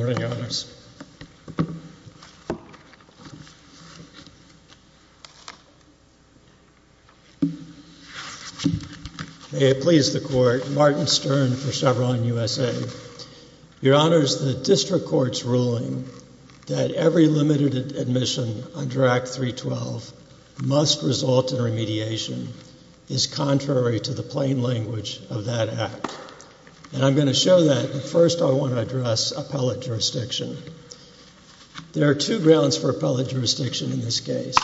Your Honors, the District Court's ruling that every limited admission under Act 312 must result in remediation is contrary to the plain language of that Act. I'm going to show that, but first I want to address appellate jurisdiction. There are two grounds for appellate jurisdiction in this case.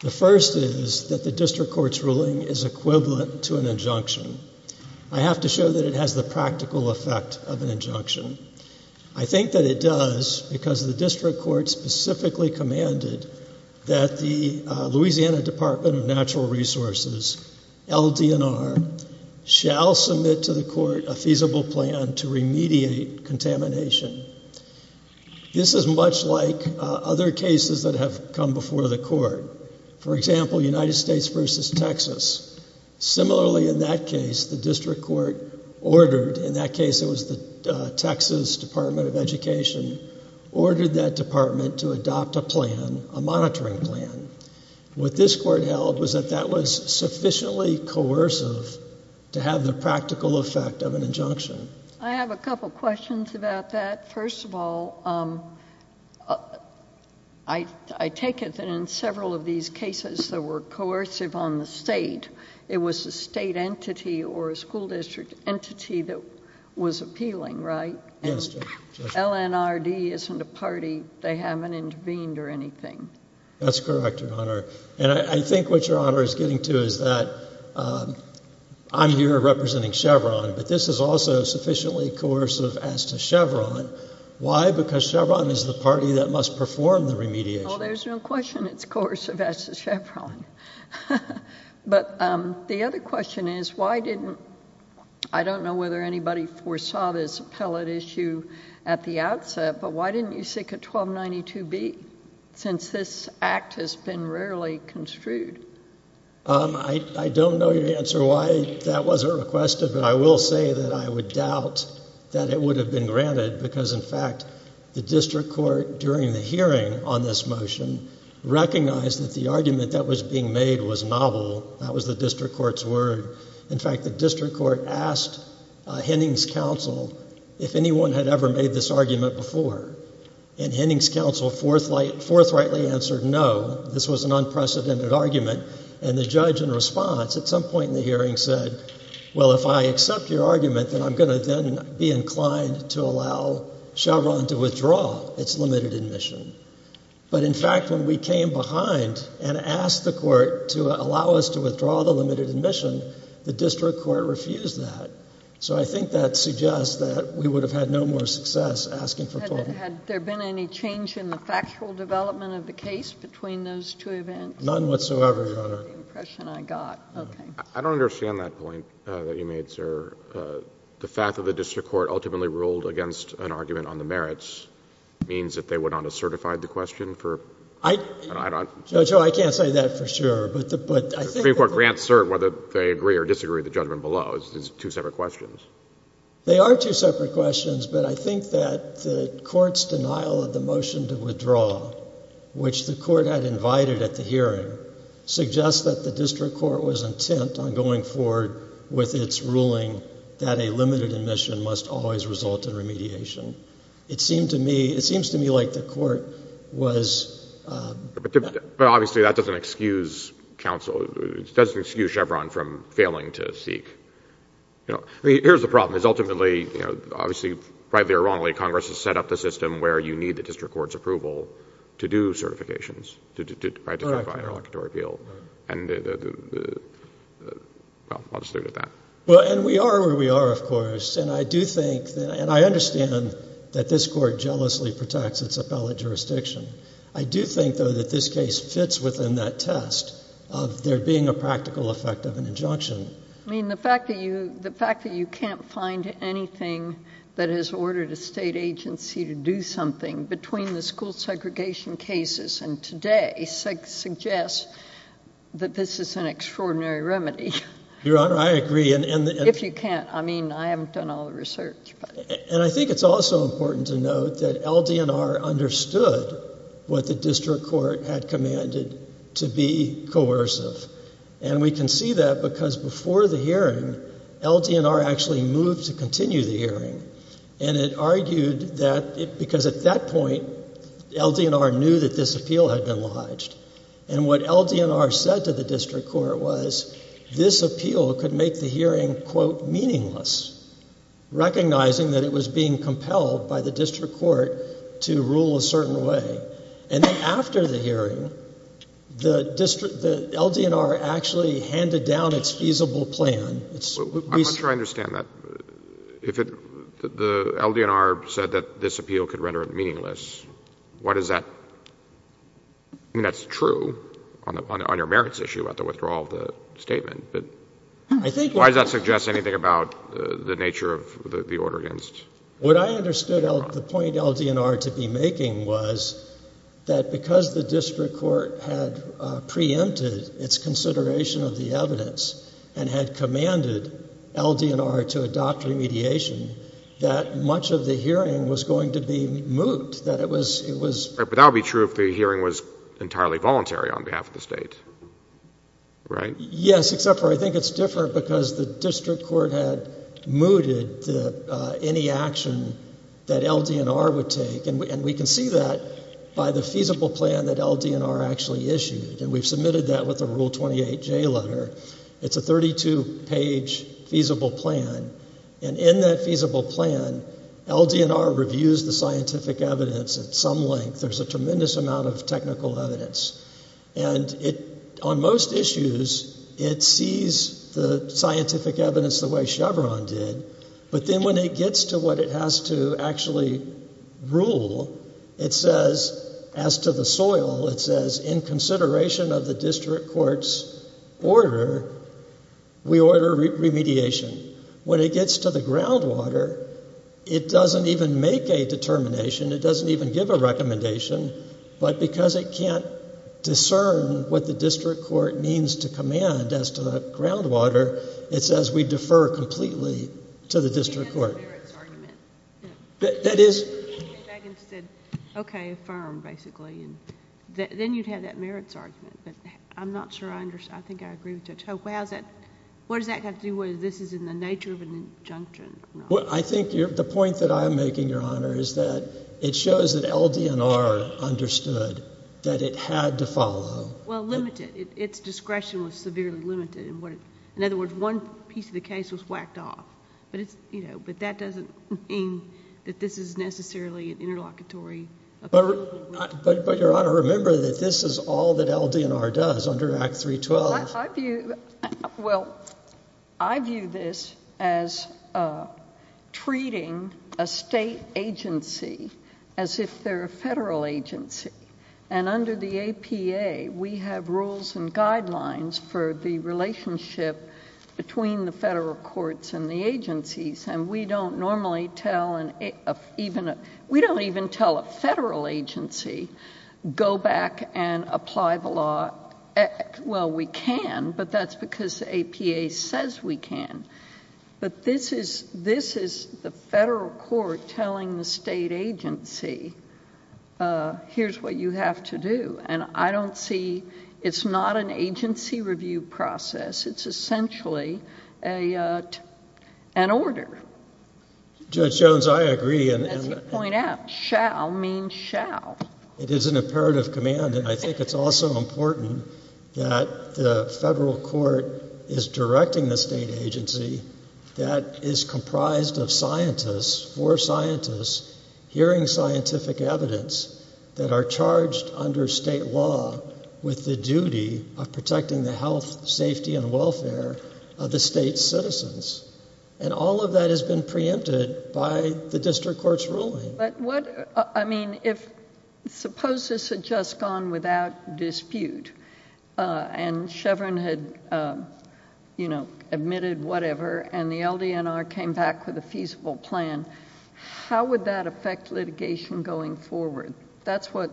The first is that the District Court's ruling is equivalent to an injunction. I have to show that it has the practical effect of an injunction. I think that it does because the District Court specifically commanded that the Louisiana Department of Natural Resources, LDNR, shall submit to the court a feasible plan to remediate contamination. This is much like other cases that have come before the court. For example, United States v. Texas. Similarly in that case, the District Court ordered, in that case it was the Texas Department of Education, ordered that department to adopt a plan, a monitoring plan. What this court held was that that was sufficiently coercive to have the practical effect of an injunction. I have a couple questions about that. First of all, I take it that in several of these cases that were coercive on the state, it was a state entity or a school district entity that was appealing, right? Yes, Judge. LNRD isn't a party. They haven't intervened or anything. That's correct, Your Honor. I think what Your Honor is getting to is that I'm here representing Chevron, but this is also sufficiently coercive as to Chevron. Why? Because Chevron is the party that must perform the remediation. Oh, there's no question it's coercive as to Chevron. The other question is, why didn't... I don't know whether anybody foresaw this appellate issue at the outset, but why didn't you seek a 1292B since this act has been rarely construed? I don't know your answer why that wasn't requested, but I will say that I would doubt that it would have been granted because, in fact, the district court during the hearing on this motion recognized that the argument that was being made was novel, that was the district court's word. In fact, the district court asked Henning's counsel if anyone had ever made this argument before, and Henning's counsel forthrightly answered no. This was an unprecedented argument, and the judge in response at some point in the hearing said, well, if I accept your argument, then I'm going to then be inclined to allow Chevron to withdraw its limited admission. But in fact, when we came behind and asked the court to allow us to withdraw the limited admission, the district court refused that. So I think that suggests that we would have had no more success asking for... Had there been any change in the factual development of the case between those two events? None whatsoever, Your Honor. That's the impression I got. Okay. I don't understand that point that you made, sir. The fact that the district court ultimately ruled against an argument on the merits means that they went on to certify the question for... I don't... Joe, Joe, I can't say that for sure, but I think... I mean, the Supreme Court grants cert whether they agree or disagree with the judgment below. It's two separate questions. They are two separate questions, but I think that the court's denial of the motion to withdraw, which the court had invited at the hearing, suggests that the district court was intent on going forward with its ruling that a limited admission must always result in remediation. It seemed to me... it seems to me like the court was... But obviously, that doesn't excuse counsel... it doesn't excuse Chevron from failing to seek... here's the problem, is ultimately, you know, obviously, rightly or wrongly, Congress has set up the system where you need the district court's approval to do certifications... Correct.... to certify an interlocutory appeal, and... well, I'll just leave it at that. Well, and we are where we are, of course, and I do think that... and I understand that this court jealously protects its appellate jurisdiction. I do think, though, that this case fits within that test of there being a practical effect of an injunction. I mean, the fact that you... the fact that you can't find anything that has ordered a state agency to do something between the school segregation cases and today suggests that this is an extraordinary remedy. Your Honor, I agree, and... If you can't, I mean, I haven't done all the research, but... And I think it's also important to note that LDNR understood what the district court had commanded to be coercive, and we can see that because before the hearing, LDNR actually moved to continue the hearing, and it argued that... because at that point, LDNR knew that this appeal had been lodged, and what LDNR said to the district court was this appeal could make the hearing, quote, meaningless, recognizing that it was being compelled by the district court to rule a certain way. And then after the hearing, the LDNR actually handed down its feasible plan. I'm not sure I understand that. If the LDNR said that this appeal could render it meaningless, why does that... I mean, that's true on your merits issue about the withdrawal of the statement, but... I think... Why does that suggest anything about the nature of the order against... What I understood the point LDNR to be making was that because the district court had preempted its consideration of the evidence and had commanded LDNR to adopt remediation, that much of the hearing was going to be moot, that it was... But that would be true if the hearing was entirely voluntary on behalf of the State, right? Yes, except for I think it's different because the district court had mooted any action that LDNR would take, and we can see that by the feasible plan that LDNR actually issued, and we've submitted that with the Rule 28J letter. It's a 32-page feasible plan, and in that feasible plan, LDNR reviews the scientific evidence at some length. There's a tremendous amount of technical evidence, and on most issues, it sees the scientific evidence the way Chevron did, but then when it gets to what it has to actually rule, it says, as to the soil, it says, in consideration of the district court's order, we order remediation. When it gets to the groundwater, it doesn't even make a determination. It doesn't even give a recommendation, but because it can't discern what the district court means to command as to the groundwater, it says, we defer completely to the district court. You had that merits argument. That is... You came back and said, okay, affirm, basically, and then you'd have that merits argument, but I'm not sure I understand. I think I agree with Judge Hope. What does that have to do with whether this is in the nature of an injunction or not? I think the point that I'm making, Your Honor, is that it shows that LDNR understood that it had to follow... Well, limited. Its discretion was severely limited. In other words, one piece of the case was whacked off, but that doesn't mean that this is necessarily an interlocutory... Your Honor, remember that this is all that LDNR does under Act 312. Well, I view this as treating a state agency as if they're a federal agency, and under the APA, we have rules and guidelines for the relationship between the federal courts and the agencies, and we don't normally tell... we don't even tell a federal agency, go back and apply the law... well, we can, but that's because APA says we can, but this is the federal court telling the state agency, here's what you have to do, and I don't see... it's not an agency review process. It's essentially an order. I would point out, shall means shall. It is an imperative command, and I think it's also important that the federal court is directing the state agency that is comprised of scientists, four scientists, hearing scientific evidence that are charged under state law with the duty of protecting the health, safety, and welfare of the state's citizens, and all of that has been preempted by the district court's But what... I mean, if... suppose this had just gone without dispute, and Chevron had, you know, admitted whatever, and the LDNR came back with a feasible plan, how would that affect litigation going forward? That's what...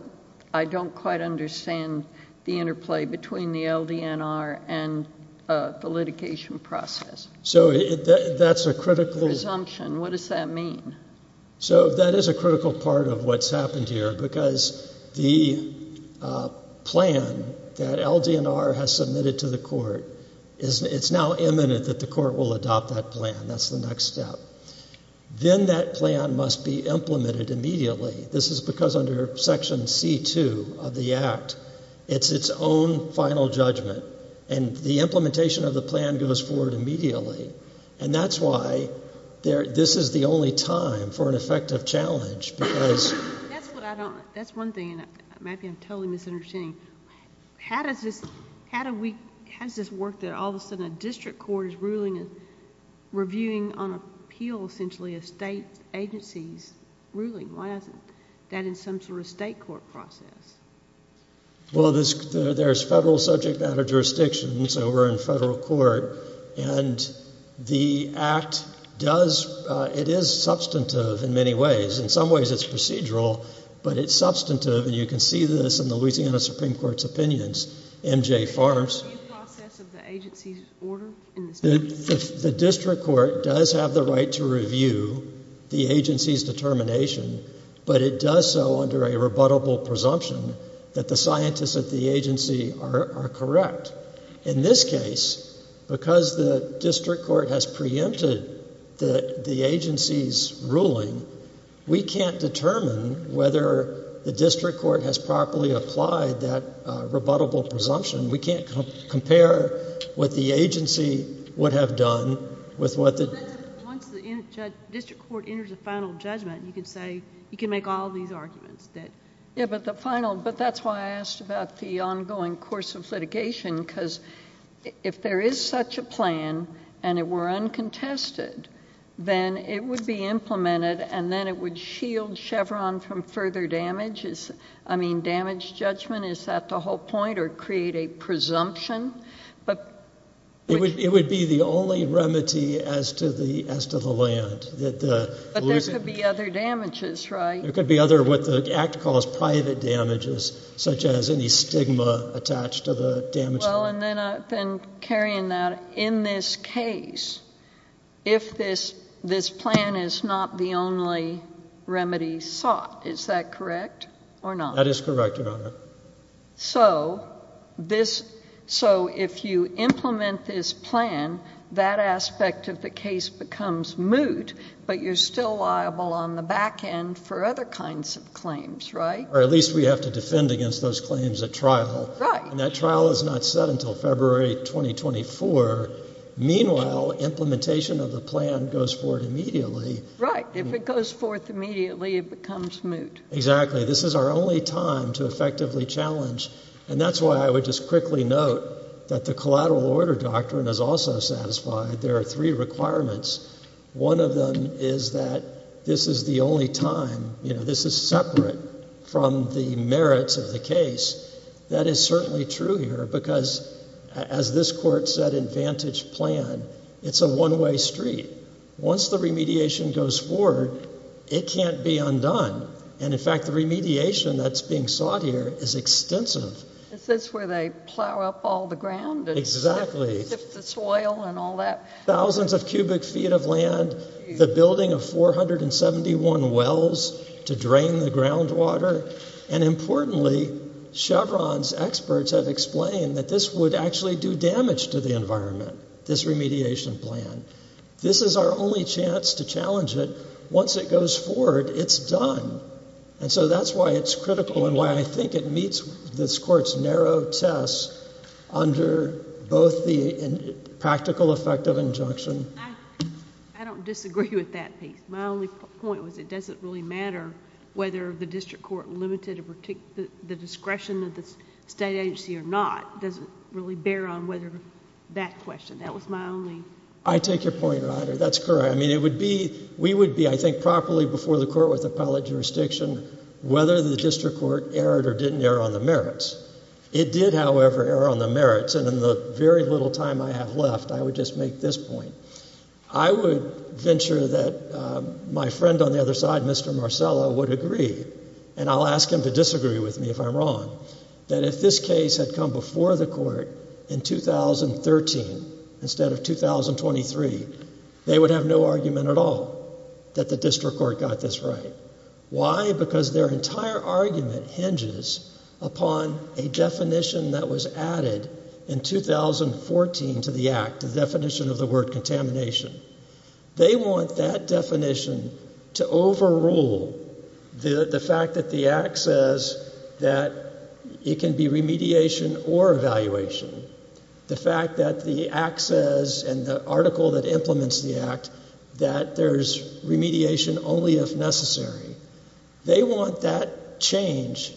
I don't quite understand the interplay between the LDNR and the litigation process. So, that's a critical... Presumption. What does that mean? So, that is a critical part of what's happened here, because the plan that LDNR has submitted to the court is... it's now imminent that the court will adopt that plan. That's the next step. Then that plan must be implemented immediately. This is because under Section C-2 of the Act, it's its own final judgment, and the implementation of the plan goes forward immediately. And that's why this is the only time for an effective challenge, because... That's what I don't... that's one thing, and maybe I'm totally misunderstanding. How does this... how do we... how does this work that all of a sudden a district court is ruling and reviewing on appeal, essentially, a state agency's ruling? Why isn't that in some sort of state court process? Well, there's federal subject matter jurisdictions over in federal court, and the Act does... it is substantive in many ways. In some ways, it's procedural, but it's substantive, and you can see this in the Louisiana Supreme Court's opinions. M.J. Farms... Is there a review process of the agency's order in this case? The district court does have the right to review the agency's determination, but it does so under a rebuttable presumption that the scientists at the agency are correct. In this case, because the district court has preempted the agency's ruling, we can't determine whether the district court has properly applied that rebuttable presumption. We can't compare what the agency would have done with what the... Once the district court enters a final judgment, you can say... you can make all these arguments that... Yeah, but the final... that's why I asked about the ongoing course of litigation, because if there is such a plan, and it were uncontested, then it would be implemented, and then it would shield Chevron from further damage. I mean, damage judgment, is that the whole point, or create a presumption? It would be the only remedy as to the land. But there could be other damages, right? There could be other, what the Act calls private damages, such as any stigma attached to the damaged land. Well, and then I've been carrying that. In this case, if this plan is not the only remedy sought, is that correct or not? That is correct, Your Honor. So, if you implement this plan, that aspect of the case becomes moot, but you're still liable on the back end for other kinds of claims, right? Or at least we have to defend against those claims at trial. Right. And that trial is not set until February 2024. Meanwhile, implementation of the plan goes forward immediately. Right. If it goes forth immediately, it becomes moot. Exactly. This is our only time to effectively challenge, and that's why I would just quickly note that the collateral order doctrine is also satisfied. There are three requirements. One of them is that this is the only time, you know, this is separate from the merits of the case. That is certainly true here, because as this Court said in Vantage Plan, it's a one-way street. Once the remediation goes forward, it can't be undone. And in fact, the remediation that's being sought here is extensive. This is where they plow up all the ground and sift the soil and all that. Thousands of cubic feet of land, the building of 471 wells to drain the groundwater, and importantly, Chevron's experts have explained that this would actually do damage to the environment, this remediation plan. This is our only chance to challenge it. Once it goes forward, it's done. And so that's why it's critical and why I think it meets this Court's narrow test under both the practical effect of injunction... I don't disagree with that piece. My only point was it doesn't really matter whether the district court limited the discretion of the state agency or not. It doesn't really bear on whether that question. That was my only... I take your point, Ryder. That's correct. I mean, it would be... We would be, I think, properly before the court with appellate jurisdiction whether the district court erred or didn't err on the merits. It did, however, err on the merits. And in the very little time I have left, I would just make this point. I would venture that my friend on the other side, Mr. Marcello, would agree, and I'll ask him to disagree with me if I'm wrong, that if this case had come before the court in 2013 instead of 2023, they would have no argument at all that the district court got this right. Why? Because their entire argument hinges upon a definition that was added in 2014 to the Act, the definition of the word contamination. They want that definition to overrule the fact that the Act says that it can be remediation or evaluation. The fact that the Act says in the article that implements the Act that there's remediation only if necessary. They want that change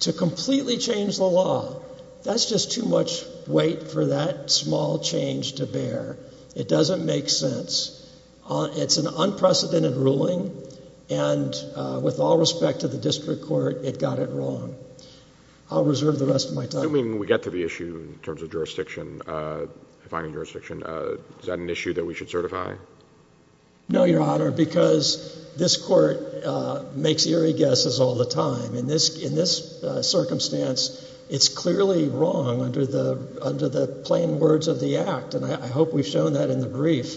to completely change the law. That's just too much weight for that small change to bear. It doesn't make sense. It's an unprecedented ruling and with all respect to the district court, it got it wrong. I'll reserve the rest of my time. I'm assuming we get to the issue in terms of finding jurisdiction. Is that an issue that we should certify? No, Your Honor, because this court makes eerie guesses all the time. In this circumstance, it's clearly wrong under the plain words of the Act, and I hope we've shown that in the brief.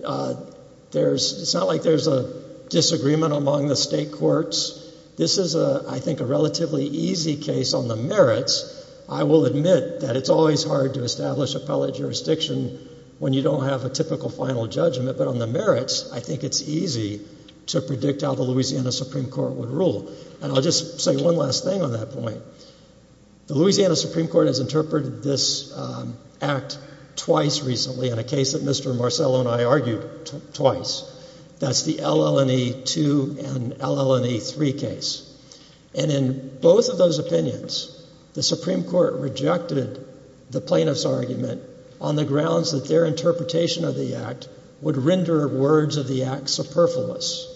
It's not like there's a disagreement among the state courts. This is, I think, a relatively easy case on the merits. I will admit that it's always hard to establish appellate jurisdiction when you don't have a typical final judgment, but on the merits, I think it's easy to predict how the Louisiana Supreme Court would rule. I'll just say one last thing on that point. The Louisiana Supreme Court has interpreted this Act twice recently in a case that Mr. Marcello and I argued twice. That's the LL&E 2 and LL&E 3 case. And in both of those opinions, the Supreme Court rejected the plaintiff's argument on the grounds that their interpretation of the Act would render words of the Act superfluous.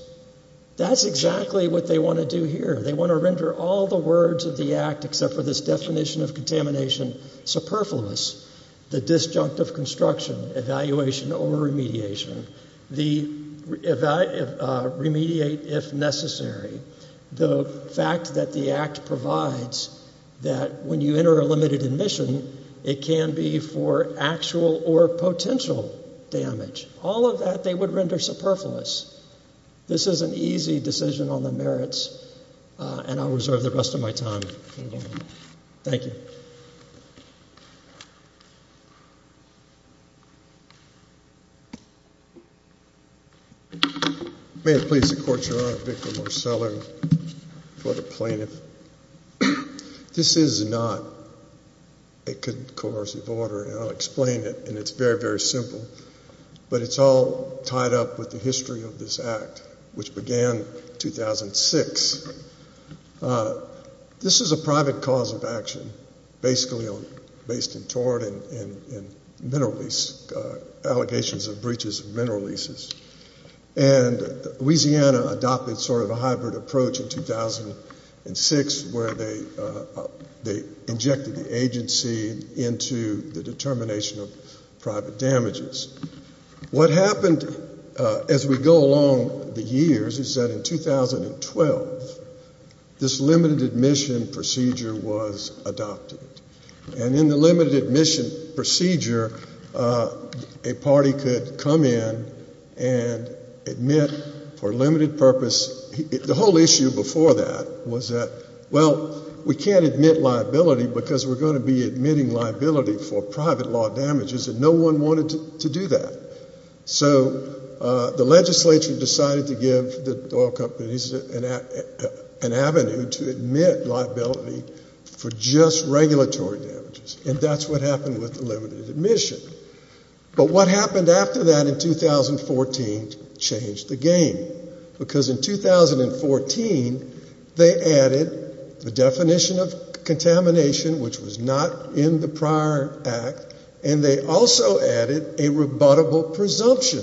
That's exactly what they want to do here. They want to render all the words of the Act, except for this definition of contamination, superfluous. The disjunct of construction, evaluation, or remediation. The remediate, if necessary. The fact that the Act provides that when you enter a limited admission, it can be for actual or potential damage. All of that they would render superfluous. This is an easy decision on the merits, and I'll reserve the rest of my time. Thank you. May it please the Court, Your Honor, Victor Marcello for the plaintiff. This is not a concurrence of order, and I'll explain it, and it's very, very simple. But it's all tied up with the history of this Act, which began in 2006. This is a private cause of action, basically based in tort and mineral lease, allegations of breaches of mineral leases. And Louisiana adopted sort of a hybrid approach in 2006, where they injected the agency into the determination of private damages. What happened as we go along the years is that in 2012, this limited admission procedure was adopted. And in the limited admission procedure, a party could come in and admit for limited purpose. The whole issue before that was that, well, we can't admit liability because we're going to be admitting liability for private law damages, and no one wanted to do that. So the legislature decided to give the oil companies an avenue to admit liability for just regulatory damages, and that's what happened with the limited admission. But what happened after that in 2014 changed the game, because in 2014 they added the definition of contamination, which was not in the prior Act, and they also added a rebuttable presumption.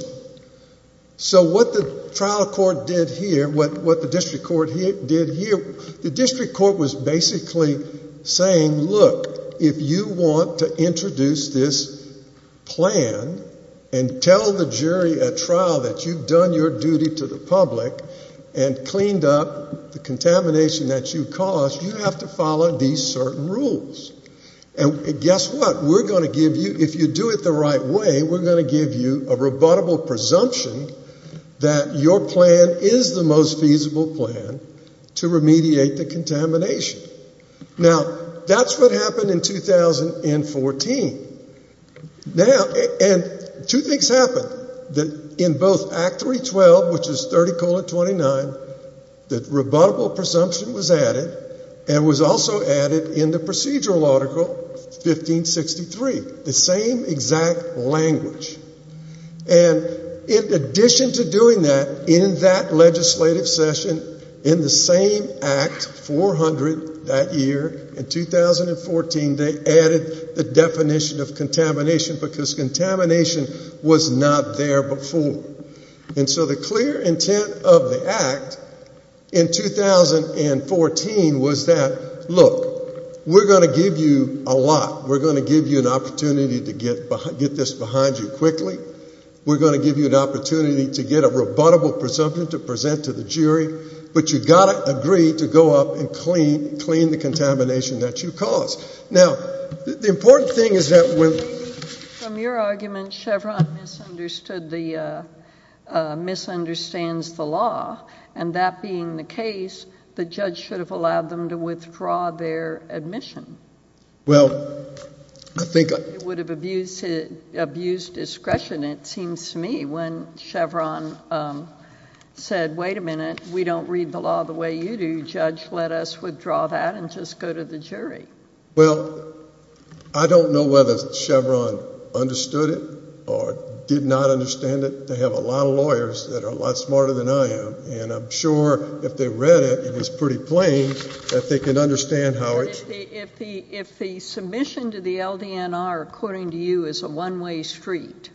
So what the trial court did here, what the district court did here, the district court was basically saying, look, if you want to introduce this plan and tell the jury at trial that you've done your duty to the public and cleaned up the contamination that you caused, you have to follow these certain rules. And guess what? We're going to give you, if you do it the right way, we're going to give you a rebuttable presumption that your plan is the most feasible plan to remediate the contamination. Now, that's what happened in 2014. And two things happened. In both Act 312, which is 30-29, the rebuttable presumption was added and was also added in the procedural article 1563, the same exact language. And in addition to doing that, in that legislative session, in the same Act 400 that year, in 2014, they added the definition of contamination, because contamination was not there before. And so the clear intent of the Act in 2014 was that, look, we're going to give you a lot. We're going to give you an opportunity to get a rebuttable presumption to present to the jury, but you've got to agree to go up and clean the contamination that you caused. Now, the important thing is that when... From your argument, Chevron misunderstood the... misunderstands the law, and that being the case, the judge should have allowed them to withdraw their admission. Well, I think... It would have abused discretion, it seems to me, when Chevron said, wait a minute, we don't read the law the way you do. Judge, let us withdraw that and just go to the jury. Well, I don't know whether Chevron understood it or did not understand it. They have a lot of lawyers that are a lot smarter than I am, and I'm sure if they read it, it was pretty plain, that they could understand how it... If the submission to the LDNR, according to you, is a one-way street,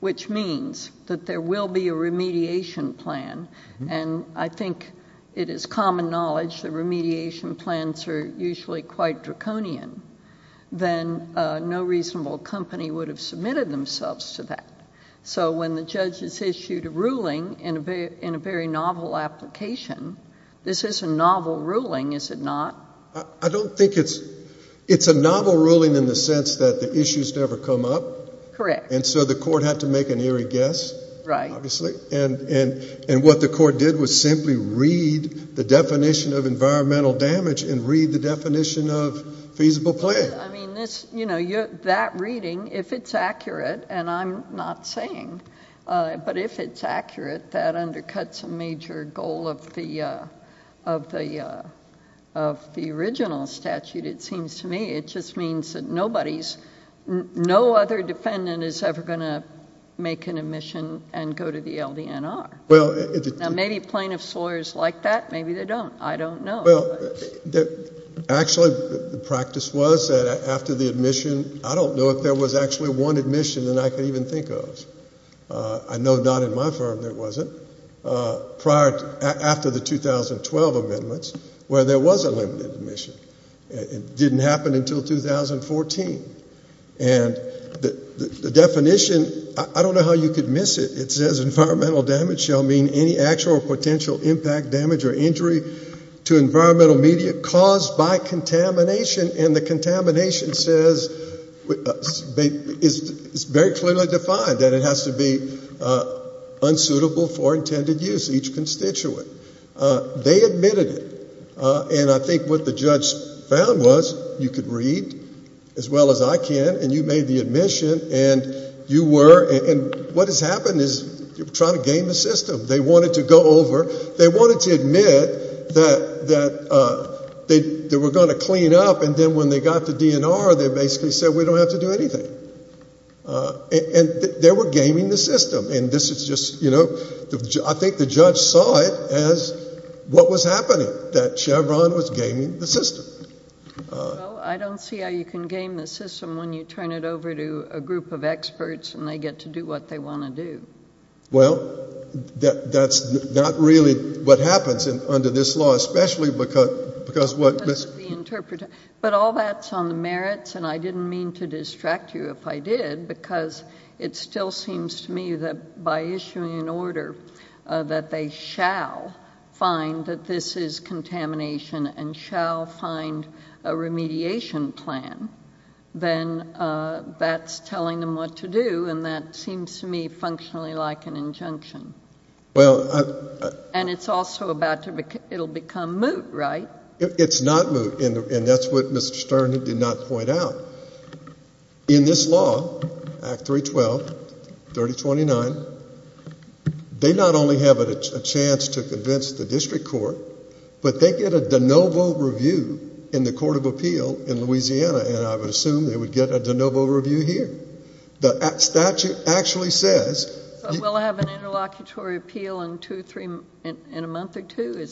which means that there will be a remediation plan, and I think it is common knowledge that remediation plans are usually quite draconian, then no reasonable company would have submitted themselves to that. So when the judge has issued a ruling in a very novel application, this is a novel ruling, is it not? I don't think it's... It's a novel ruling in the sense that the issues never come up. Correct. And so the court had to make an eerie guess, obviously, and what the court did was simply read the definition of environmental damage and read the definition of feasible plan. I mean, that reading, if it's accurate, and I'm not saying, but if it's accurate, that undercuts a major goal of the original statute, it seems to me. It just means that nobody's... No other defendant is ever going to make an admission and go to the LDNR. Now, maybe plaintiff's lawyers like that, maybe they don't. I don't know. Actually, the practice was that after the admission... I don't know if there was actually one admission that I could even think of. I know not in my firm there wasn't. Prior... After the 2012 amendments, where there was a limited admission. It didn't happen until 2014. And the definition... I don't know how you could miss it. It says environmental damage shall mean any actual potential impact, damage or injury to environmental media caused by contamination, and the contamination says... It's very clearly defined that it has to be unsuitable for intended use, each constituent. They admitted it. And I think what the judge found was you could read as well as I can, and you made the admission, and you were... And what has happened is you're trying to game the system. They wanted to go over... They wanted to admit that they were going to clean up, and then when they got to DNR, they basically said, we don't have to do anything. And they were gaming the system. And this is just, you know... I think the judge saw it as what was happening, that Chevron was gaming the system. Well, I don't see how you can game the system when you turn it over to a group of experts and they get to do what they want to do. Well, that's not really what happens under this law, especially because what... But all that's on the merits, and I didn't mean to distract you if I did, because it still seems to me that by issuing an order that they shall find that this is contamination and shall find a remediation plan, then that's telling them what to do, and that seems to me functionally like an injunction. Well... And it's also about to... It'll become moot, right? It's not moot, and that's what Mr Stern did not point out. In this law, Act 312, 3029, they not only have a chance to convince the district court, but they get a de novo review in the Court of Appeal in Louisiana, and I would assume they would get a de novo review here. The statute actually says... We'll have an interlocutory appeal in two, three... In a month or two.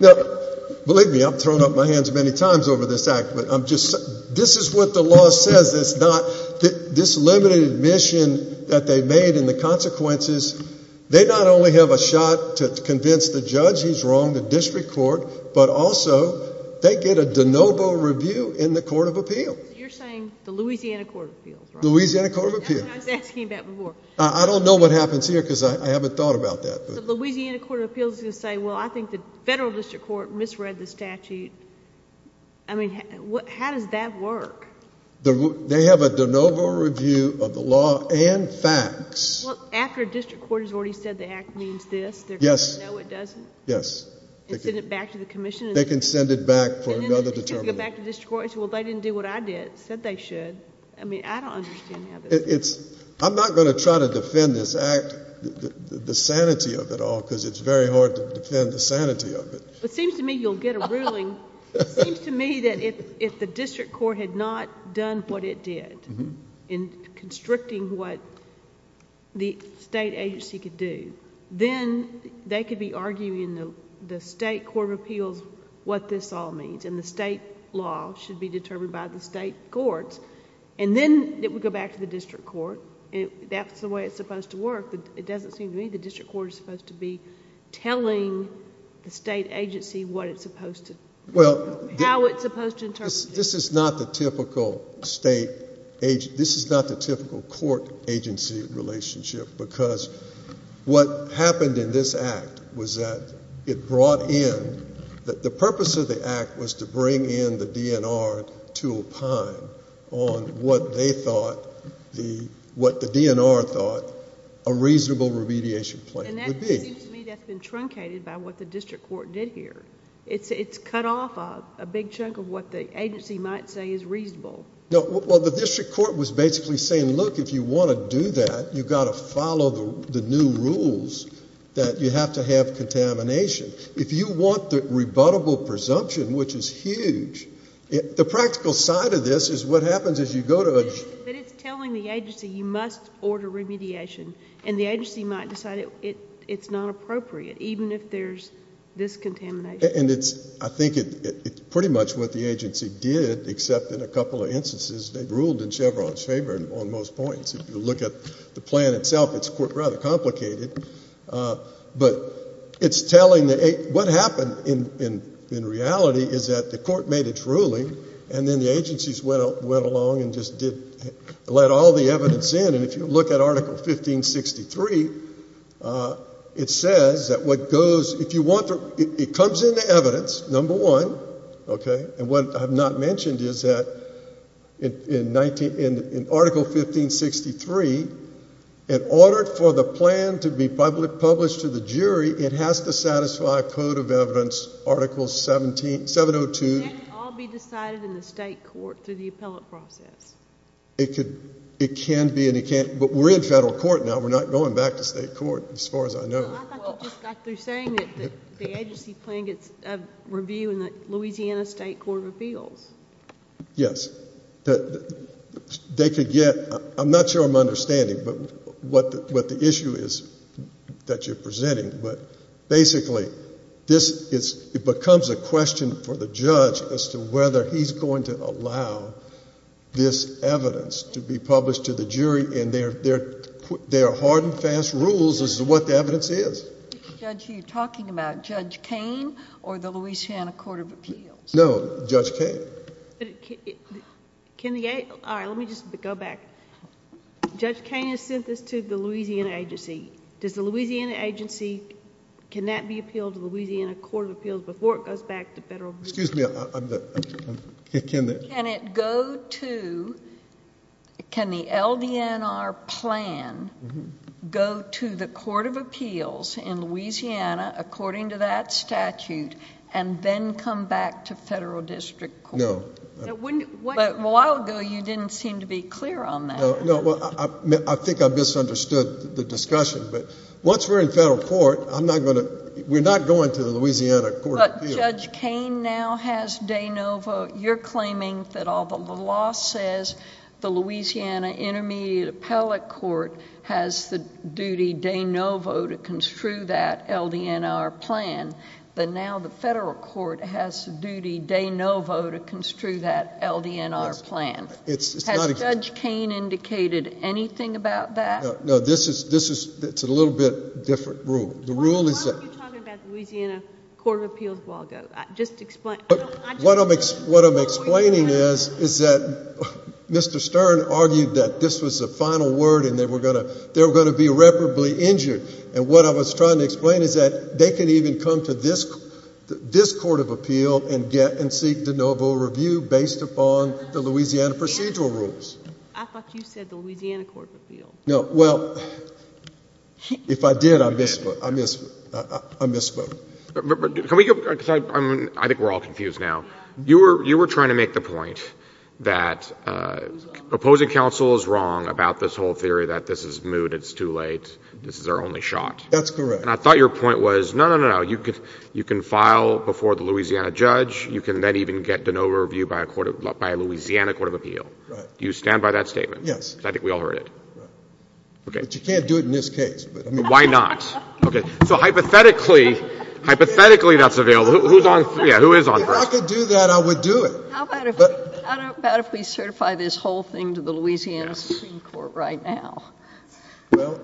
Now, believe me, I've thrown up my hands many times over this Act, but I'm just... This is what the law says. It's not this limited admission that they've made and the consequences. They not only have a shot to convince the judge he's wrong, the district court, but also they get a de novo review in the Court of Appeal. You're saying the Louisiana Court of Appeals, right? Louisiana Court of Appeals. That's what I was asking about before. I don't know what happens here because I haven't thought about that. The Louisiana Court of Appeals is going to say, well, I think the federal district court misread the statute. I mean, how does that work? They have a de novo review of the law and facts. Well, after a district court has already said the Act means this, they're going to say, no, it doesn't? Yes. And send it back to the commission? They can send it back for another determination. And then they can go back to the district court and say, well, they didn't do what I did, said they should. I mean, I don't understand how this works. I'm not going to try to defend this Act, the sanity of it all, because it's very hard to defend the sanity of it. It seems to me you'll get a ruling. It seems to me that if the district court had not done what it did in constricting what the state agency could do, then they could be arguing in the state Court of Appeals what this all means, and the state law should be determined by the state courts, and then it would go back to the district court. That's the way it's supposed to work. It doesn't seem to me the district court is supposed to be telling the state agency what it's supposed to do, how it's supposed to interpret it. This is not the typical state agency. This is not the typical court-agency relationship, because what happened in this Act was that it brought in... The purpose of the Act was to bring in the DNR to opine on what they thought the... what the DNR thought a reasonable remediation plan would be. And that seems to me that's been truncated by what the district court did here. It's cut off a big chunk of what the agency might say is reasonable. No, well, the district court was basically saying, look, if you want to do that, you've got to follow the new rules that you have to have contamination. If you want the rebuttable presumption, which is huge, the practical side of this is what happens as you go to a... But it's telling the agency you must order remediation, and the agency might decide it's not appropriate, even if there's this contamination. And it's... I think it's pretty much what the agency did, except in a couple of instances they ruled in Chevron's favor on most points. If you look at the plan itself, it's rather complicated. But it's telling the... What happened in reality is that the court made its ruling, and then the agencies went along and just let all the evidence in. And if you look at Article 1563, it says that what goes... If you want to... It comes into evidence, number one, okay? And what I've not mentioned is that in Article 1563, in order for the plan to be published to the jury, it has to satisfy a code of evidence, Article 702... Can't it all be decided in the state court through the appellate process? It can be, and it can't... But we're in federal court now. We're not going back to state court, as far as I know. Well, I thought you just got through saying that the agency plan gets a review in the Louisiana State Court of Appeals. Yes. They could get... I'm not sure I'm understanding what the issue is that you're presenting. But basically, it becomes a question for the judge as to whether he's going to allow this evidence to be published to the jury in their hard and fast rules, as to what the evidence is. Which judge are you talking about, Judge Cain or the Louisiana Court of Appeals? No, Judge Cain. All right, let me just go back. Judge Cain has sent this to the Louisiana agency. Does the Louisiana agency... Can that be appealed to the Louisiana Court of Appeals before it goes back to federal... Excuse me. Can it go to... Can the LDNR plan go to the Court of Appeals in Louisiana, according to that statute, and then come back to federal district court? No. But a while ago, you didn't seem to be clear on that. No. Well, I think I misunderstood the discussion. But once we're in federal court, I'm not going to... We're not going to the Louisiana Court of Appeals. But Judge Cain now has de novo. You're claiming that although the law says the Louisiana Intermediate Appellate Court has the duty de novo to construe that LDNR plan, but now the federal court has the duty de novo to construe that LDNR plan. It's not... Has Judge Cain indicated anything about that? No. This is... It's a little bit different rule. The rule is that... Why are you talking about the Louisiana Court of Appeals a while ago? Just explain. I don't... What I'm explaining is that Mr. Stern argued that this was the final word and they were going to be irreparably injured. And what I was trying to explain is that they can even come to this court of appeal and get and seek de novo review based upon the Louisiana procedural rules. I thought you said the Louisiana Court of Appeals. No. Well, if I did, I misspoke. I misspoke. Can we go... I think we're all confused now. You were trying to make the point that opposing counsel is wrong about this whole theory that this is moot, it's too late, this is our only shot. That's correct. And I thought your point was, no, no, no, no. You can file before the Louisiana judge. You can then even get de novo review by a Louisiana court of appeal. Right. Do you stand by that statement? Yes. Because I think we all heard it. Right. Okay. But you can't do it in this case. Why not? Okay. So hypothetically, hypothetically that's available. Who's on... Yeah, who is on first? If I could do that, I would do it. How about if we certify this whole thing to the Louisiana Supreme Court right now? Well,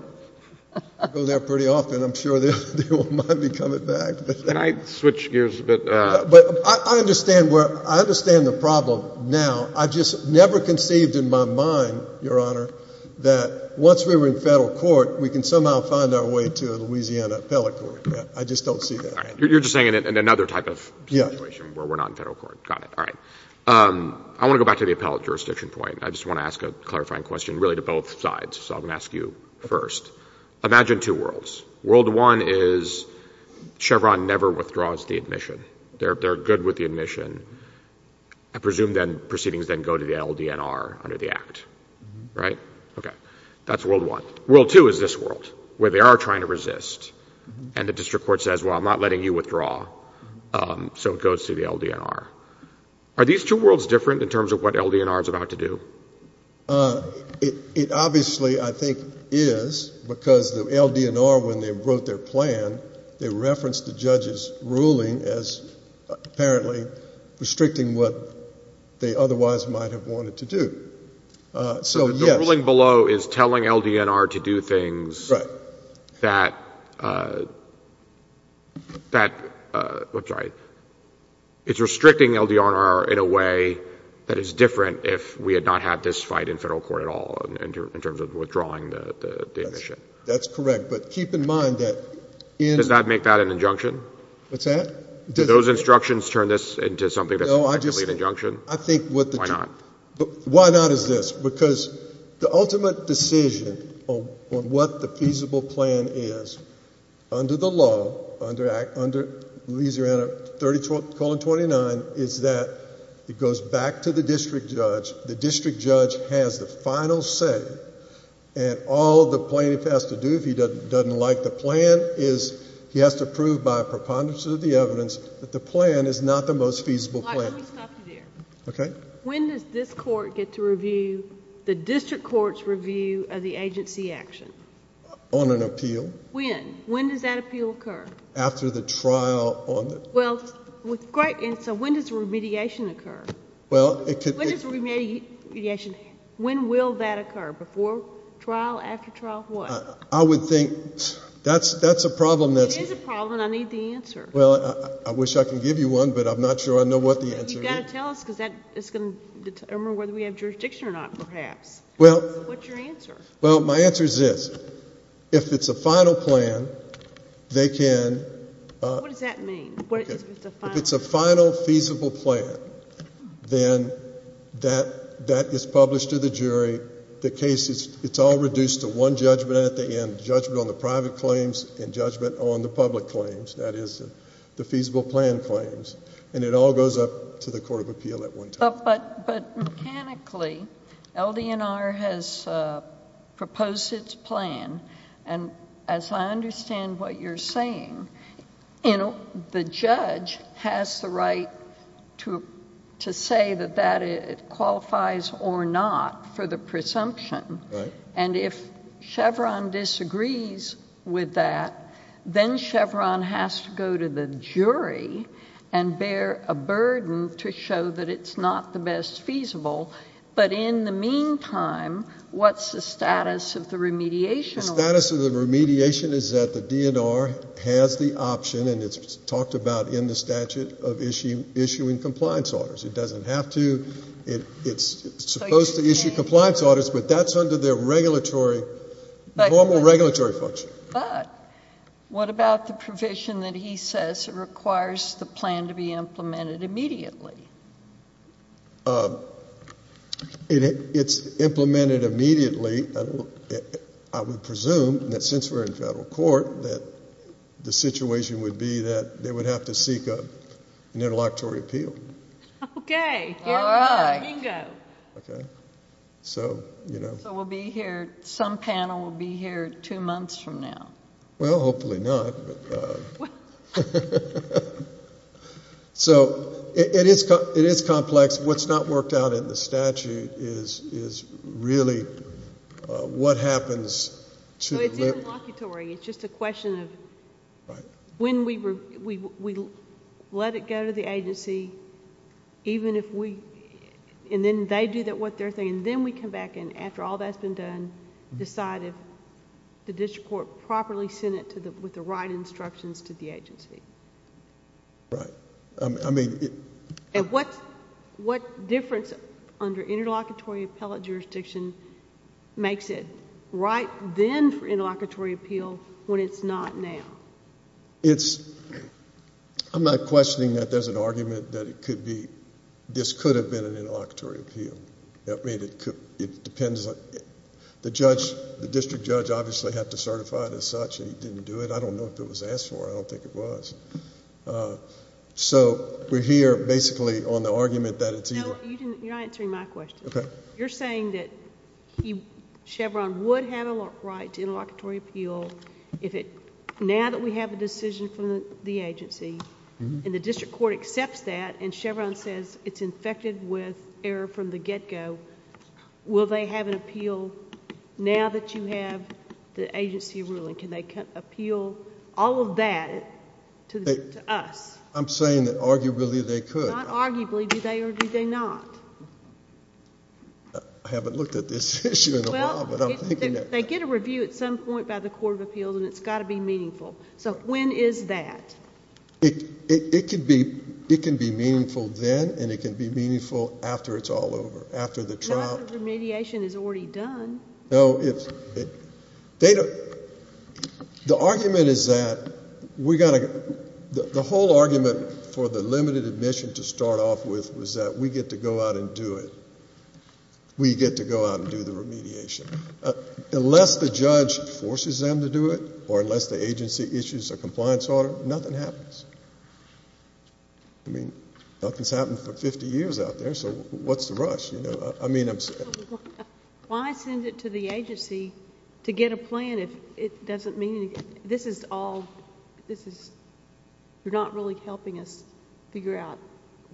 I go there pretty often. I'm sure they won't mind me coming back. Can I switch gears a bit? But I understand where... I understand the problem now. I've just never conceived in my mind, Your Honor, that once we were in federal court, we can somehow find our way to a Louisiana appellate court. I just don't see that happening. You're just saying in another type of situation where we're not in federal court. Got it. All right. I want to go back to the appellate jurisdiction point. I just want to ask a clarifying question really to both sides. So I'm going to ask you first. Imagine two worlds. World one is Chevron never withdraws the admission. They're good with the admission. I presume then proceedings then go to the LDNR under the Act. Right? Okay. That's world one. World two is this world where they are trying to resist and the district court says, well, I'm not letting you withdraw. So it goes to the LDNR. Are these two worlds different in terms of what LDNR is about to do? It obviously, I think, is because the LDNR, when they wrote their plan, they referenced the judge's ruling as apparently restricting what they otherwise might have wanted to do. So yes. So the ruling below is telling LDNR to do things that, I'm sorry, it's restricting LDNR in a way that is different if we had not had this fight in federal court at all in terms of withdrawing the admission. That's correct. But keep in mind that in... Does that make that an injunction? What's that? Do those instructions turn this into something that's completely an injunction? No, I just think... Why not? Why not is this. Because the ultimate decision on what the feasible plan is, under the law, under Act... These are under 30 colon 29, is that it goes back to the district judge. The district judge has the final say. And all the plaintiff has to do if he doesn't like the plan is he has to prove by a preponderance of the evidence that the plan is not the most feasible plan. Why don't we stop you there? Okay. When does this court get to review the district court's review of the agency action? On an appeal. When? When does that appeal occur? After the trial on the... Well, with great... And so when does remediation occur? Well, it could... When does remediation... When will that occur? Before trial, after trial, what? I would think... That's a problem that's... It is a problem and I need the answer. Well, I wish I could give you one, but I'm not sure I know what the answer is. You've got to tell us because that is going to determine whether we have jurisdiction or not, perhaps. Well... What's your answer? Well, my answer is this. If it's a final plan, they can... What does that mean? If it's a final... If it's a final feasible plan, then that is published to the jury. The case is, it's all reduced to one judgment at the end, judgment on the private claims and judgment on the public claims. That is the feasible plan claims. And it all goes up to the court of appeal at one time. But mechanically, LDNR has proposed its plan and as I understand what you're saying, the judge has the right to say that that qualifies or not for the presumption. Right. And if Chevron disagrees with that, then Chevron has to go to the jury and bear a burden to show that it's not the best feasible. But in the meantime, what's the status of the remediation order? The status of the remediation is that the DNR has the option and it's talked about in the statute of issuing compliance orders. It doesn't have to. It's supposed to issue compliance orders, but that's under their regulatory... But...... normal regulatory function. But what about the provision that he says requires the plan to be implemented immediately? It's implemented immediately. I would presume that since we're in federal court, that the situation would be that they would have to seek an interlocutory appeal. All right. Bingo. Okay. So, you know... So we'll be here, some panel will be here two months from now. Well, hopefully not, but... What happens to... It's interlocutory. It's just a question of... Right. When we let it go to the agency, even if we... And then they do what they're saying, and then we come back and after all that's been done, decide if the district court properly sent it with the right instructions to the agency. Right. I mean... And what difference under interlocutory appellate jurisdiction makes it right then for interlocutory appeal when it's not now? It's... I'm not questioning that there's an argument that it could be... This could have been an interlocutory appeal. That made it... It depends on... The judge... The district judge obviously had to certify it as such and he didn't do it. I don't know if it was asked for. I don't think it was. So we're here basically on the argument that it's either... No, you're not answering my question. Okay. You're saying that Chevron would have a right to interlocutory appeal if it... Now that we have a decision from the agency and the district court accepts that and Chevron says it's infected with error from the get-go, will they have an appeal now that you have the agency ruling? Can they appeal all of that? To us? I'm saying that arguably they could. Not arguably. Do they or do they not? I haven't looked at this issue in a while, but I'm thinking... Well, they get a review at some point by the court of appeals and it's got to be meaningful. So when is that? It can be meaningful then and it can be meaningful after it's all over, after the trial... After the remediation is already done. No, it's... They don't... The argument is that we've got to... The whole argument for the limited admission to start off with was that we get to go out and do it. We get to go out and do the remediation. Unless the judge forces them to do it or unless the agency issues a compliance order, nothing happens. I mean, nothing's happened for 50 years out there, so what's the rush? You know, I mean... Why send it to the agency to get a plan if it doesn't mean... This is all... This is... You're not really helping us figure out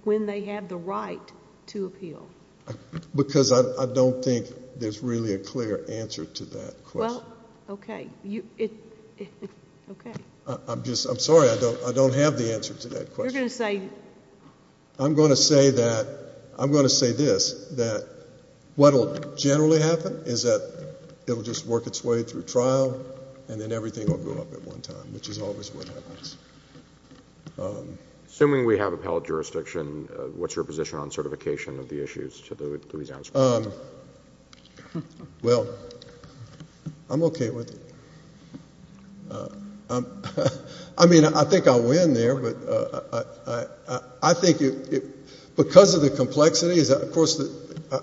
when they have the right to appeal. Because I don't think there's really a clear answer to that question. Well, okay. You... Okay. I'm just... I'm sorry. I don't have the answer to that question. You're going to say... I'm going to say that... I'm going to say this, that what'll generally happen is that it'll just work its way through trial and then everything will go up at one time, which is always what happens. Assuming we have appellate jurisdiction, what's your position on certification of the issues to the Louisiana Supreme Court? Well, I'm okay with it. I mean, I think I win there, but I think it... Because of the complexities, of course,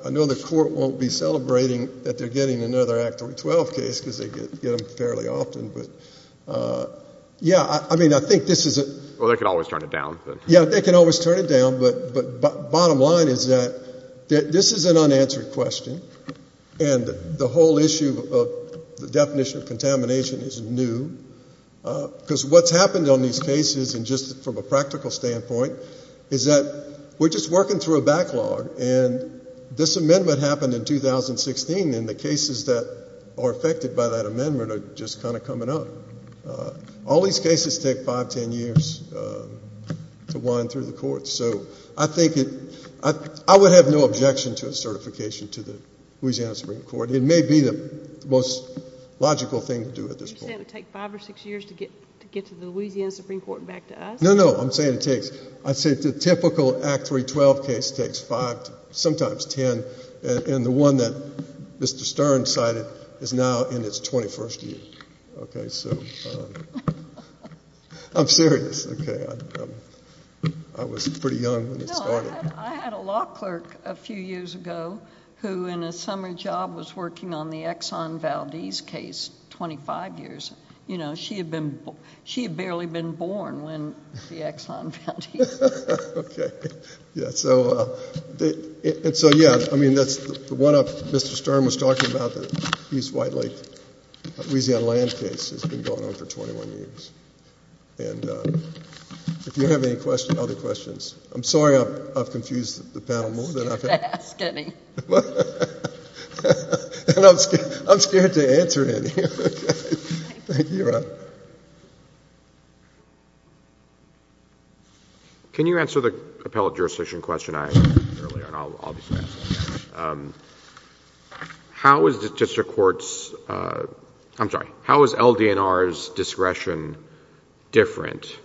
I know the court won't be celebrating that they're getting another Act 12 case because they get them fairly often, but... Yeah, I mean, I think this is a... Well, they can always turn it down. Yeah, they can always turn it down, but bottom line is that this is an unanswered question and the whole issue of the definition of contamination is new. Because what's happened on these cases, and just from a practical standpoint, is that we're just working through a backlog and this amendment happened in 2016 and the cases that are affected by that amendment are just kind of coming up. All these cases take five, ten years to wind through the courts. So I think it... I would have no objection to a certification to the Louisiana Supreme Court. It may be the most logical thing to do at this point. You're saying it would take five or six years to get to the Louisiana Supreme Court and back to us? No, no, I'm saying it takes... I'd say the typical Act 312 case takes five, sometimes ten, and the one that Mr. Stern cited is now in its 21st year. Okay, so... I'm serious, okay. I was pretty young when it started. No, I had a law clerk a few years ago who, in a summer job, was working on the Exxon Valdez case 25 years. You know, she had barely been born when the Exxon Valdez... Okay, yeah, so... And so, yeah, I mean, that's the one up Mr. Stern was talking about, the East White Lake, Louisiana land case that's been going on for 21 years. And if you have any other questions... I'm sorry I've confused the panel more than I've... I'm scared to ask any. And I'm scared to answer any. Thank you, Ron. Can you answer the appellate jurisdiction question I asked earlier? And I'll be fast. How is the district court's... I'm sorry. How is LDNR's discretion different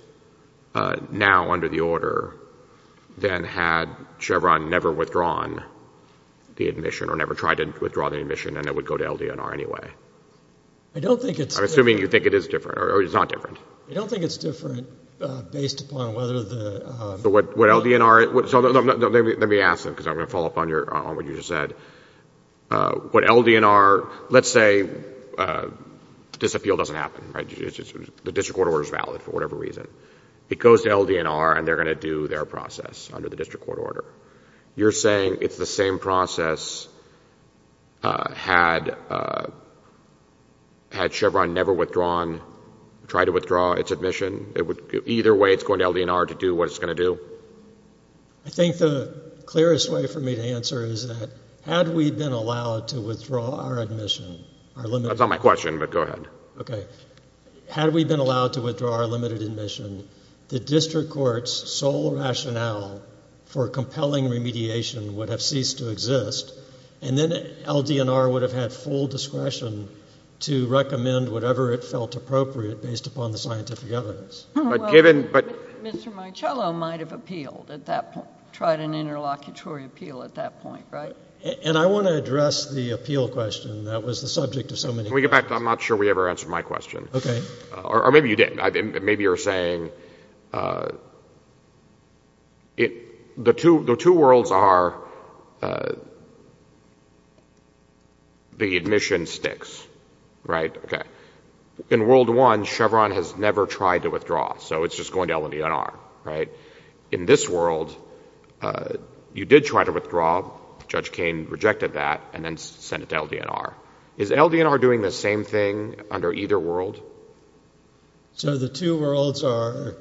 now under the order than had Chevron never withdrawn the admission or never tried to withdraw the admission and it would go to LDNR anyway? I don't think it's... I'm assuming you think it is different or it's not different. I don't think it's different based upon whether the... So what LDNR... Let me ask them because I'm going to follow up on what you just said. What LDNR... Let's say disappeal doesn't happen, right? The district court order is valid for whatever reason. It goes to LDNR and they're going to do their process under the district court order. You're saying it's the same process had Chevron never withdrawn... tried to withdraw its admission. Either way, it's going to LDNR to do what it's going to do? I think the clearest way for me to answer is that had we been allowed to withdraw our admission... That's not my question, but go ahead. Okay. Had we been allowed to withdraw our limited admission, the district court's sole rationale for compelling remediation would have ceased to exist and then LDNR would have had full discretion to recommend whatever it felt appropriate based upon the scientific evidence. But given... Mr. Marcello might have appealed at that point, tried an interlocutory appeal at that point, right? And I want to address the appeal question that was the subject of so many questions. Can we get back? I'm not sure we ever answered my question. Okay. Or maybe you did. Maybe you're saying the two worlds are the admission sticks, right? Okay. In World I, Chevron has never tried to withdraw. So it's just going to LDNR, right? In this world, you did try to withdraw. Judge Kain rejected that and then sent it to LDNR. Is LDNR doing the same thing under either world? So the two worlds are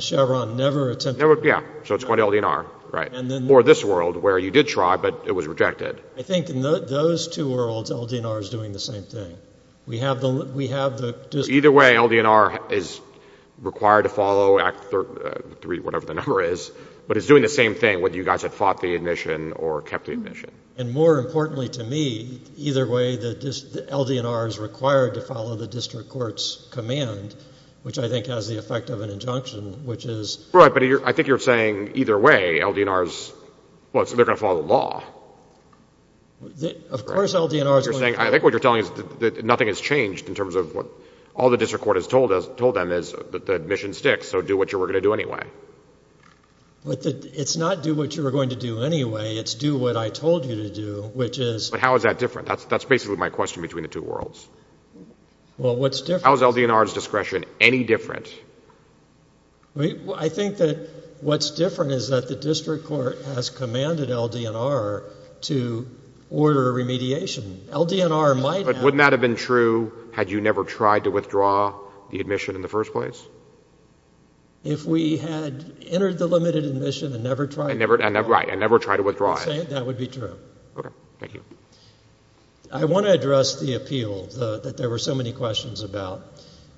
Chevron never attempted... Yeah. So it's going to LDNR, right? And then... Or this world where you did try, but it was rejected. I think in those two worlds, LDNR is doing the same thing. We have the... Either way, LDNR is required to follow Act 3, whatever the number is, but it's doing the same thing whether you guys have fought the admission or kept the admission. And more importantly to me, either way, LDNR is required to follow the district court's command, which I think has the effect of an injunction, which is... Right. But I think you're saying either way, LDNR is... Of course LDNR is going to... I think what you're telling is that nothing has changed in terms of what all the district court has told them is that the admission sticks, so do what you were going to do anyway. It's not do what you were going to do anyway. It's do what I told you to do, which is... But how is that different? That's basically my question between the two worlds. Well, what's different... How is LDNR's discretion any different? I think that what's different is that the district court has commanded LDNR to order a remediation. LDNR might have... But wouldn't that have been true had you never tried to withdraw the admission in the first place? If we had entered the limited admission and never tried... Right, and never tried to withdraw it. That would be true. Okay. Thank you. I want to address the appeal that there were so many questions about.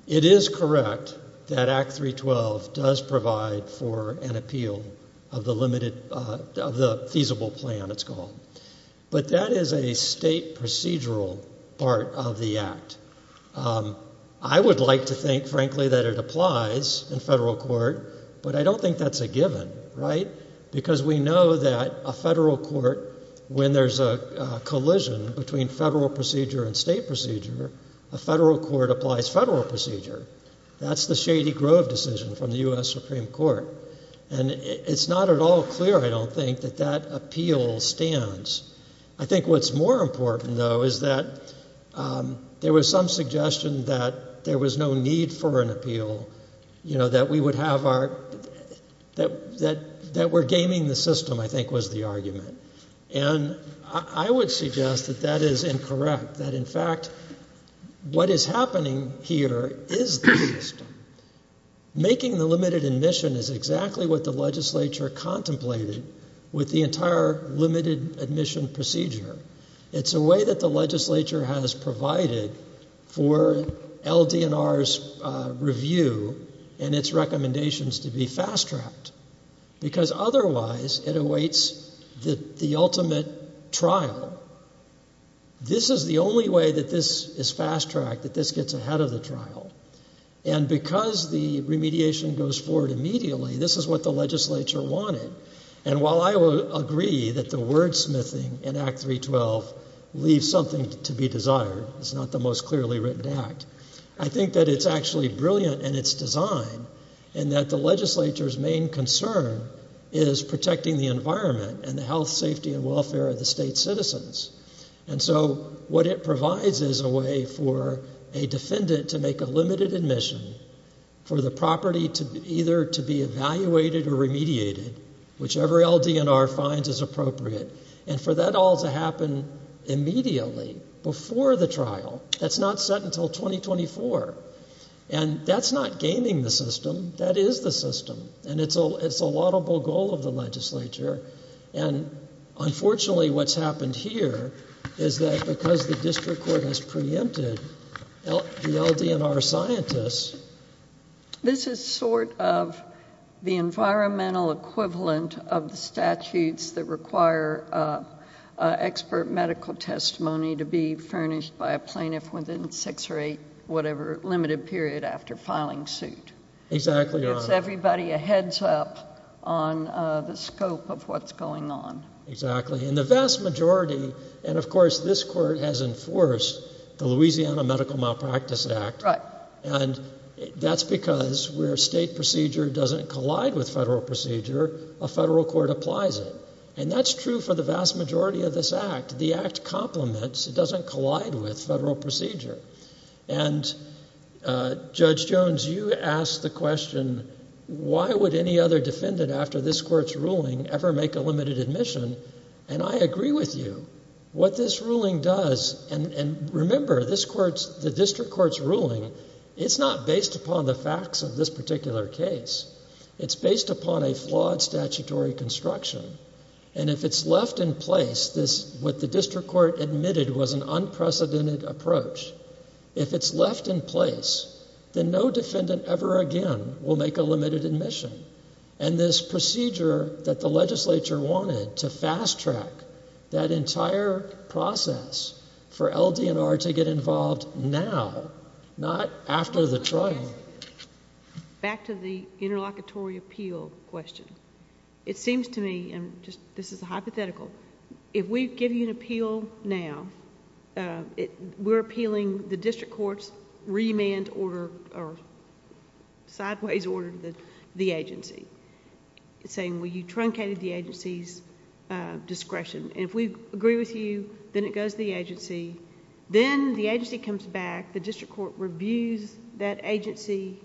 It is correct that Act 312 does provide for an appeal of the limited... of the feasible plan, it's called. But that is a state procedural part of the Act. I would like to think, frankly, that it applies in federal court, but I don't think that's a given, right? Because we know that a federal court, when there's a collision between federal procedure and state procedure, a federal court applies federal procedure. That's the Shady Grove decision from the U.S. Supreme Court. And it's not at all clear, I don't think, that that appeal stands. I think what's more important, though, is that there was some suggestion that there was no need for an appeal, you know, that we would have our... that we're gaming the system, I think, was the argument. And I would suggest that that is incorrect, that, in fact, what is happening here is the system. Making the limited admission is exactly what the legislature contemplated with the entire limited admission procedure. It's a way that the legislature has provided for LDNR's review and its recommendations to be fast-tracked. Because otherwise, it awaits the ultimate trial. This is the only way that this is fast-tracked, that this gets ahead of the trial. And because the remediation goes forward immediately, this is what the legislature wanted. And while I will agree that the wordsmithing in Act 312 leaves something to be desired, it's not the most clearly written act, I think that it's actually brilliant in its design in that the legislature's main concern is protecting the environment and the health, safety, and welfare of the state's citizens. And so what it provides is a way for a defendant to make a limited admission for the property either to be evaluated or remediated whichever LDNR finds is appropriate. And for that all to happen immediately, before the trial, that's not set until 2024. And that's not gaming the system, that is the system. And it's a laudable goal of the legislature. And unfortunately, what's happened here is that because the district court has preempted the LDNR scientists... This is sort of the environmental equivalent of the statutes that require expert medical testimony to be furnished by a plaintiff within six or eight whatever limited period after filing suit. It gives everybody a heads-up on the scope of what's going on. Exactly. And the vast majority, and of course, this court has enforced the Louisiana Medical Malpractice Act. Right. And that's because where state procedure doesn't collide with federal procedure, a federal court applies it. And that's true for the vast majority of this act. The act complements, it doesn't collide with federal procedure. And Judge Jones, you asked the question, why would any other defendant after this court's ruling ever make a limited admission? And I agree with you. What this ruling does, and remember, this court's, the district court's ruling, it's not based upon the facts of this particular case. It's based upon a flawed statutory construction. And if it's left in place, what the district court admitted was an unprecedented approach. If it's left in place, then no defendant ever again will make a limited admission. And this procedure that the legislature wanted to fast-track that entire process for LDNR to get involved now, not after the trial. Back to the interlocutory appeal question. It seems to me, and this is hypothetical, if we give you an appeal now, we're appealing the district court's remand order, or sideways order, to the agency, saying, well, you truncated the agency's discretion. And if we agree with you, then it goes to the agency. Then the agency comes back, the district court reviews that agency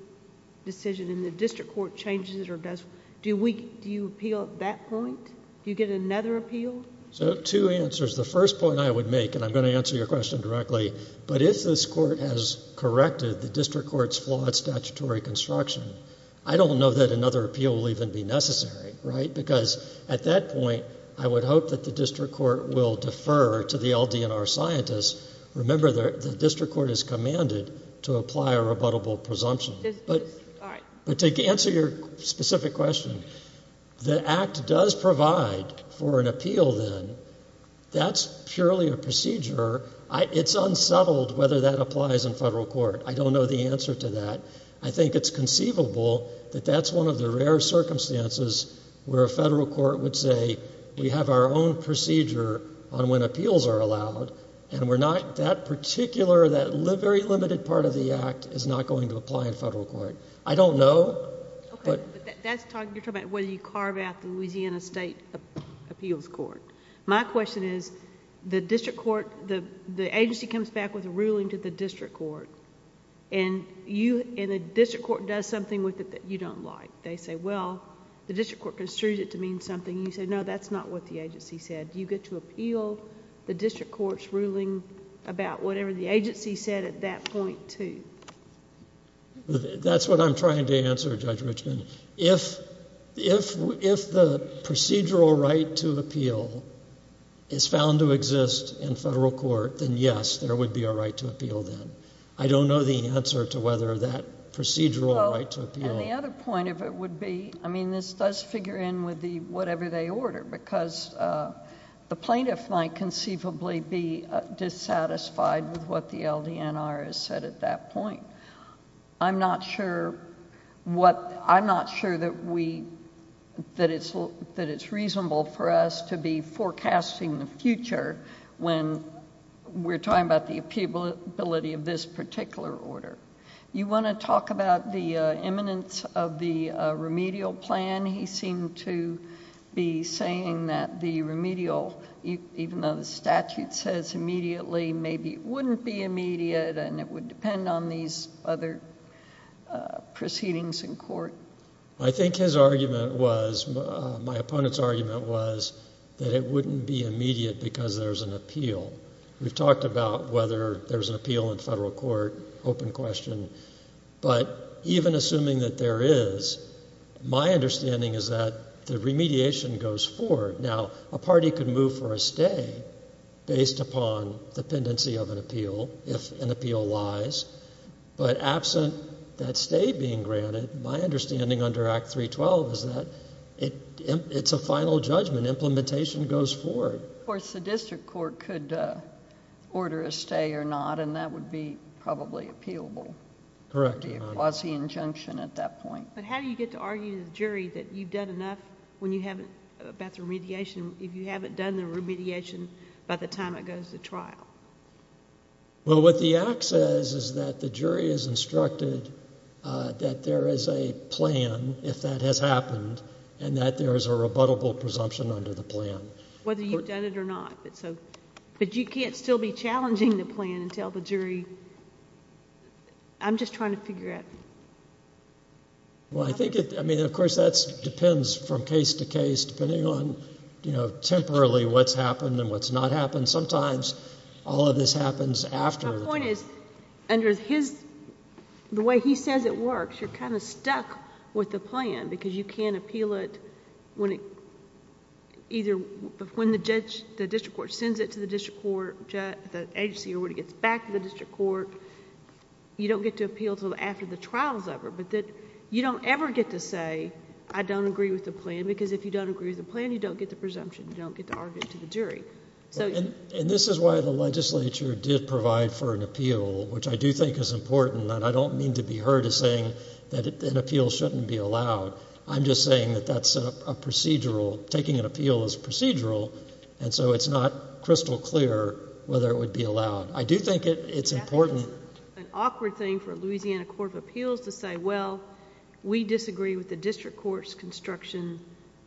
decision, and the district court changes it or does... Do you appeal at that point? Do you get another appeal? So two answers. The first point I would make, and I'm gonna answer your question directly, but if this court has corrected the district court's flawed statutory construction, I don't know that another appeal will even be necessary, right? Because at that point, I would hope that the district court will defer to the LDNR scientists. Remember, the district court is commanded to apply a rebuttable presumption. But to answer your specific question, the Act does provide for an appeal, then. That's purely a procedure. It's unsettled whether that applies in federal court. I don't know the answer to that. I think it's conceivable that that's one of the rare circumstances where a federal court would say, we have our own procedure on when appeals are allowed, and we're not... That particular, that very limited part of the Act is not going to apply in federal court. I don't know, but... Okay, but you're talking about whether you carve out the Louisiana State Appeals Court. My question is, the district court... The agency comes back with a ruling to the district court, and the district court does something with it that you don't like. They say, well, the district court construed it to mean something, and you say, no, that's not what the agency said. Do you get to appeal the district court's ruling about whatever the agency said at that point, too? That's what I'm trying to answer, Judge Richmond. If the procedural right to appeal is found to exist in federal court, then yes, there would be a right to appeal, then. I don't know the answer to whether that procedural right to appeal... And the other point of it would be... I mean, this does figure in with whatever they order, because the plaintiff might conceivably be dissatisfied with what the LDNR has said at that point. I'm not sure what... I'm not sure that we... that it's... that it's reasonable for us to be forecasting the future when we're talking about the appealability of this particular order. You want to talk about the imminence of the remedial plan? He seemed to be saying that the remedial, even though the statute says immediately, maybe it wouldn't be immediate and it would depend on these other proceedings in court. I think his argument was... my opponent's argument was that it wouldn't be immediate because there's an appeal. We've talked about whether there's an appeal in federal court, open question. But even assuming that there is, my understanding is that the remediation goes forward. Now, a party could move for a stay based upon dependency of an appeal, if an appeal lies. But absent that stay being granted, my understanding under Act 312 is that it's a final judgment. Implementation goes forward. Of course, the district court could order a stay or not, and that would be probably appealable. Correct, Your Honor. It would be a quasi-injunction at that point. But how do you get to argue to the jury that you've done enough about the remediation if you haven't done the remediation by the time it goes to trial? Well, what the Act says is that the jury is instructed that there is a plan, if that has happened, and that there is a rebuttable presumption under the plan. Whether you've done it or not. But you can't still be challenging the plan and tell the jury... I'm just trying to figure out... Well, I think it... I mean, of course, that depends from case to case, depending on, you know, temporarily what's happened and what's not happened. Sometimes all of this happens after... My point is, under his... the way he says it works, you're kind of stuck with the plan because you can't appeal it when it... When the district court sends it to the district court, the agency already gets back to the district court, you don't get to appeal until after the trial is over. You don't ever get to say, I don't agree with the plan, because if you don't agree with the plan, you don't get the presumption, you don't get to argue it to the jury. And this is why the legislature which I do think is important, and I don't mean to be heard as saying that an appeal shouldn't be allowed. I'm just saying that that's a procedural... Taking an appeal is procedural, and so it's not crystal clear whether it would be allowed. I do think it's important... That's an awkward thing for a Louisiana Court of Appeals to say, well, we disagree with the district court's construction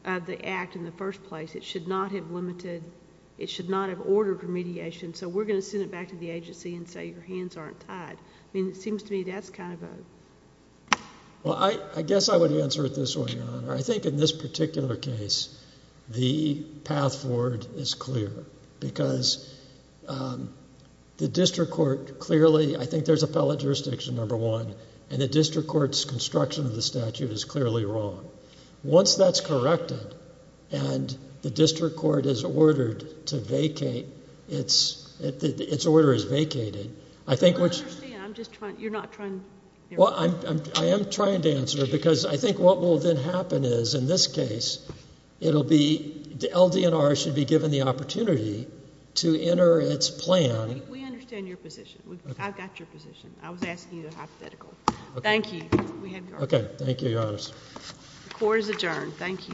of the act in the first place. It should not have limited... It should not have ordered remediation, so we're going to send it back to the agency and say your hands aren't tied. I mean, it seems to me that's kind of a... Well, I guess I would answer it this way, Your Honor. I think in this particular case, the path forward is clear, because the district court clearly... I think there's appellate jurisdiction, number one, and the district court's construction of the statute is clearly wrong. Once that's corrected, and the district court is ordered to vacate its... its order is vacated, I think we're... I understand. I'm just trying... You're not trying... Well, I am trying to answer, because I think what will then happen is in this case, it'll be... LDNR should be given the opportunity to enter its plan... We understand your position. I've got your position. I was asking you the hypothetical. Thank you. Okay. Thank you, Your Honor. The court is adjourned. Thank you.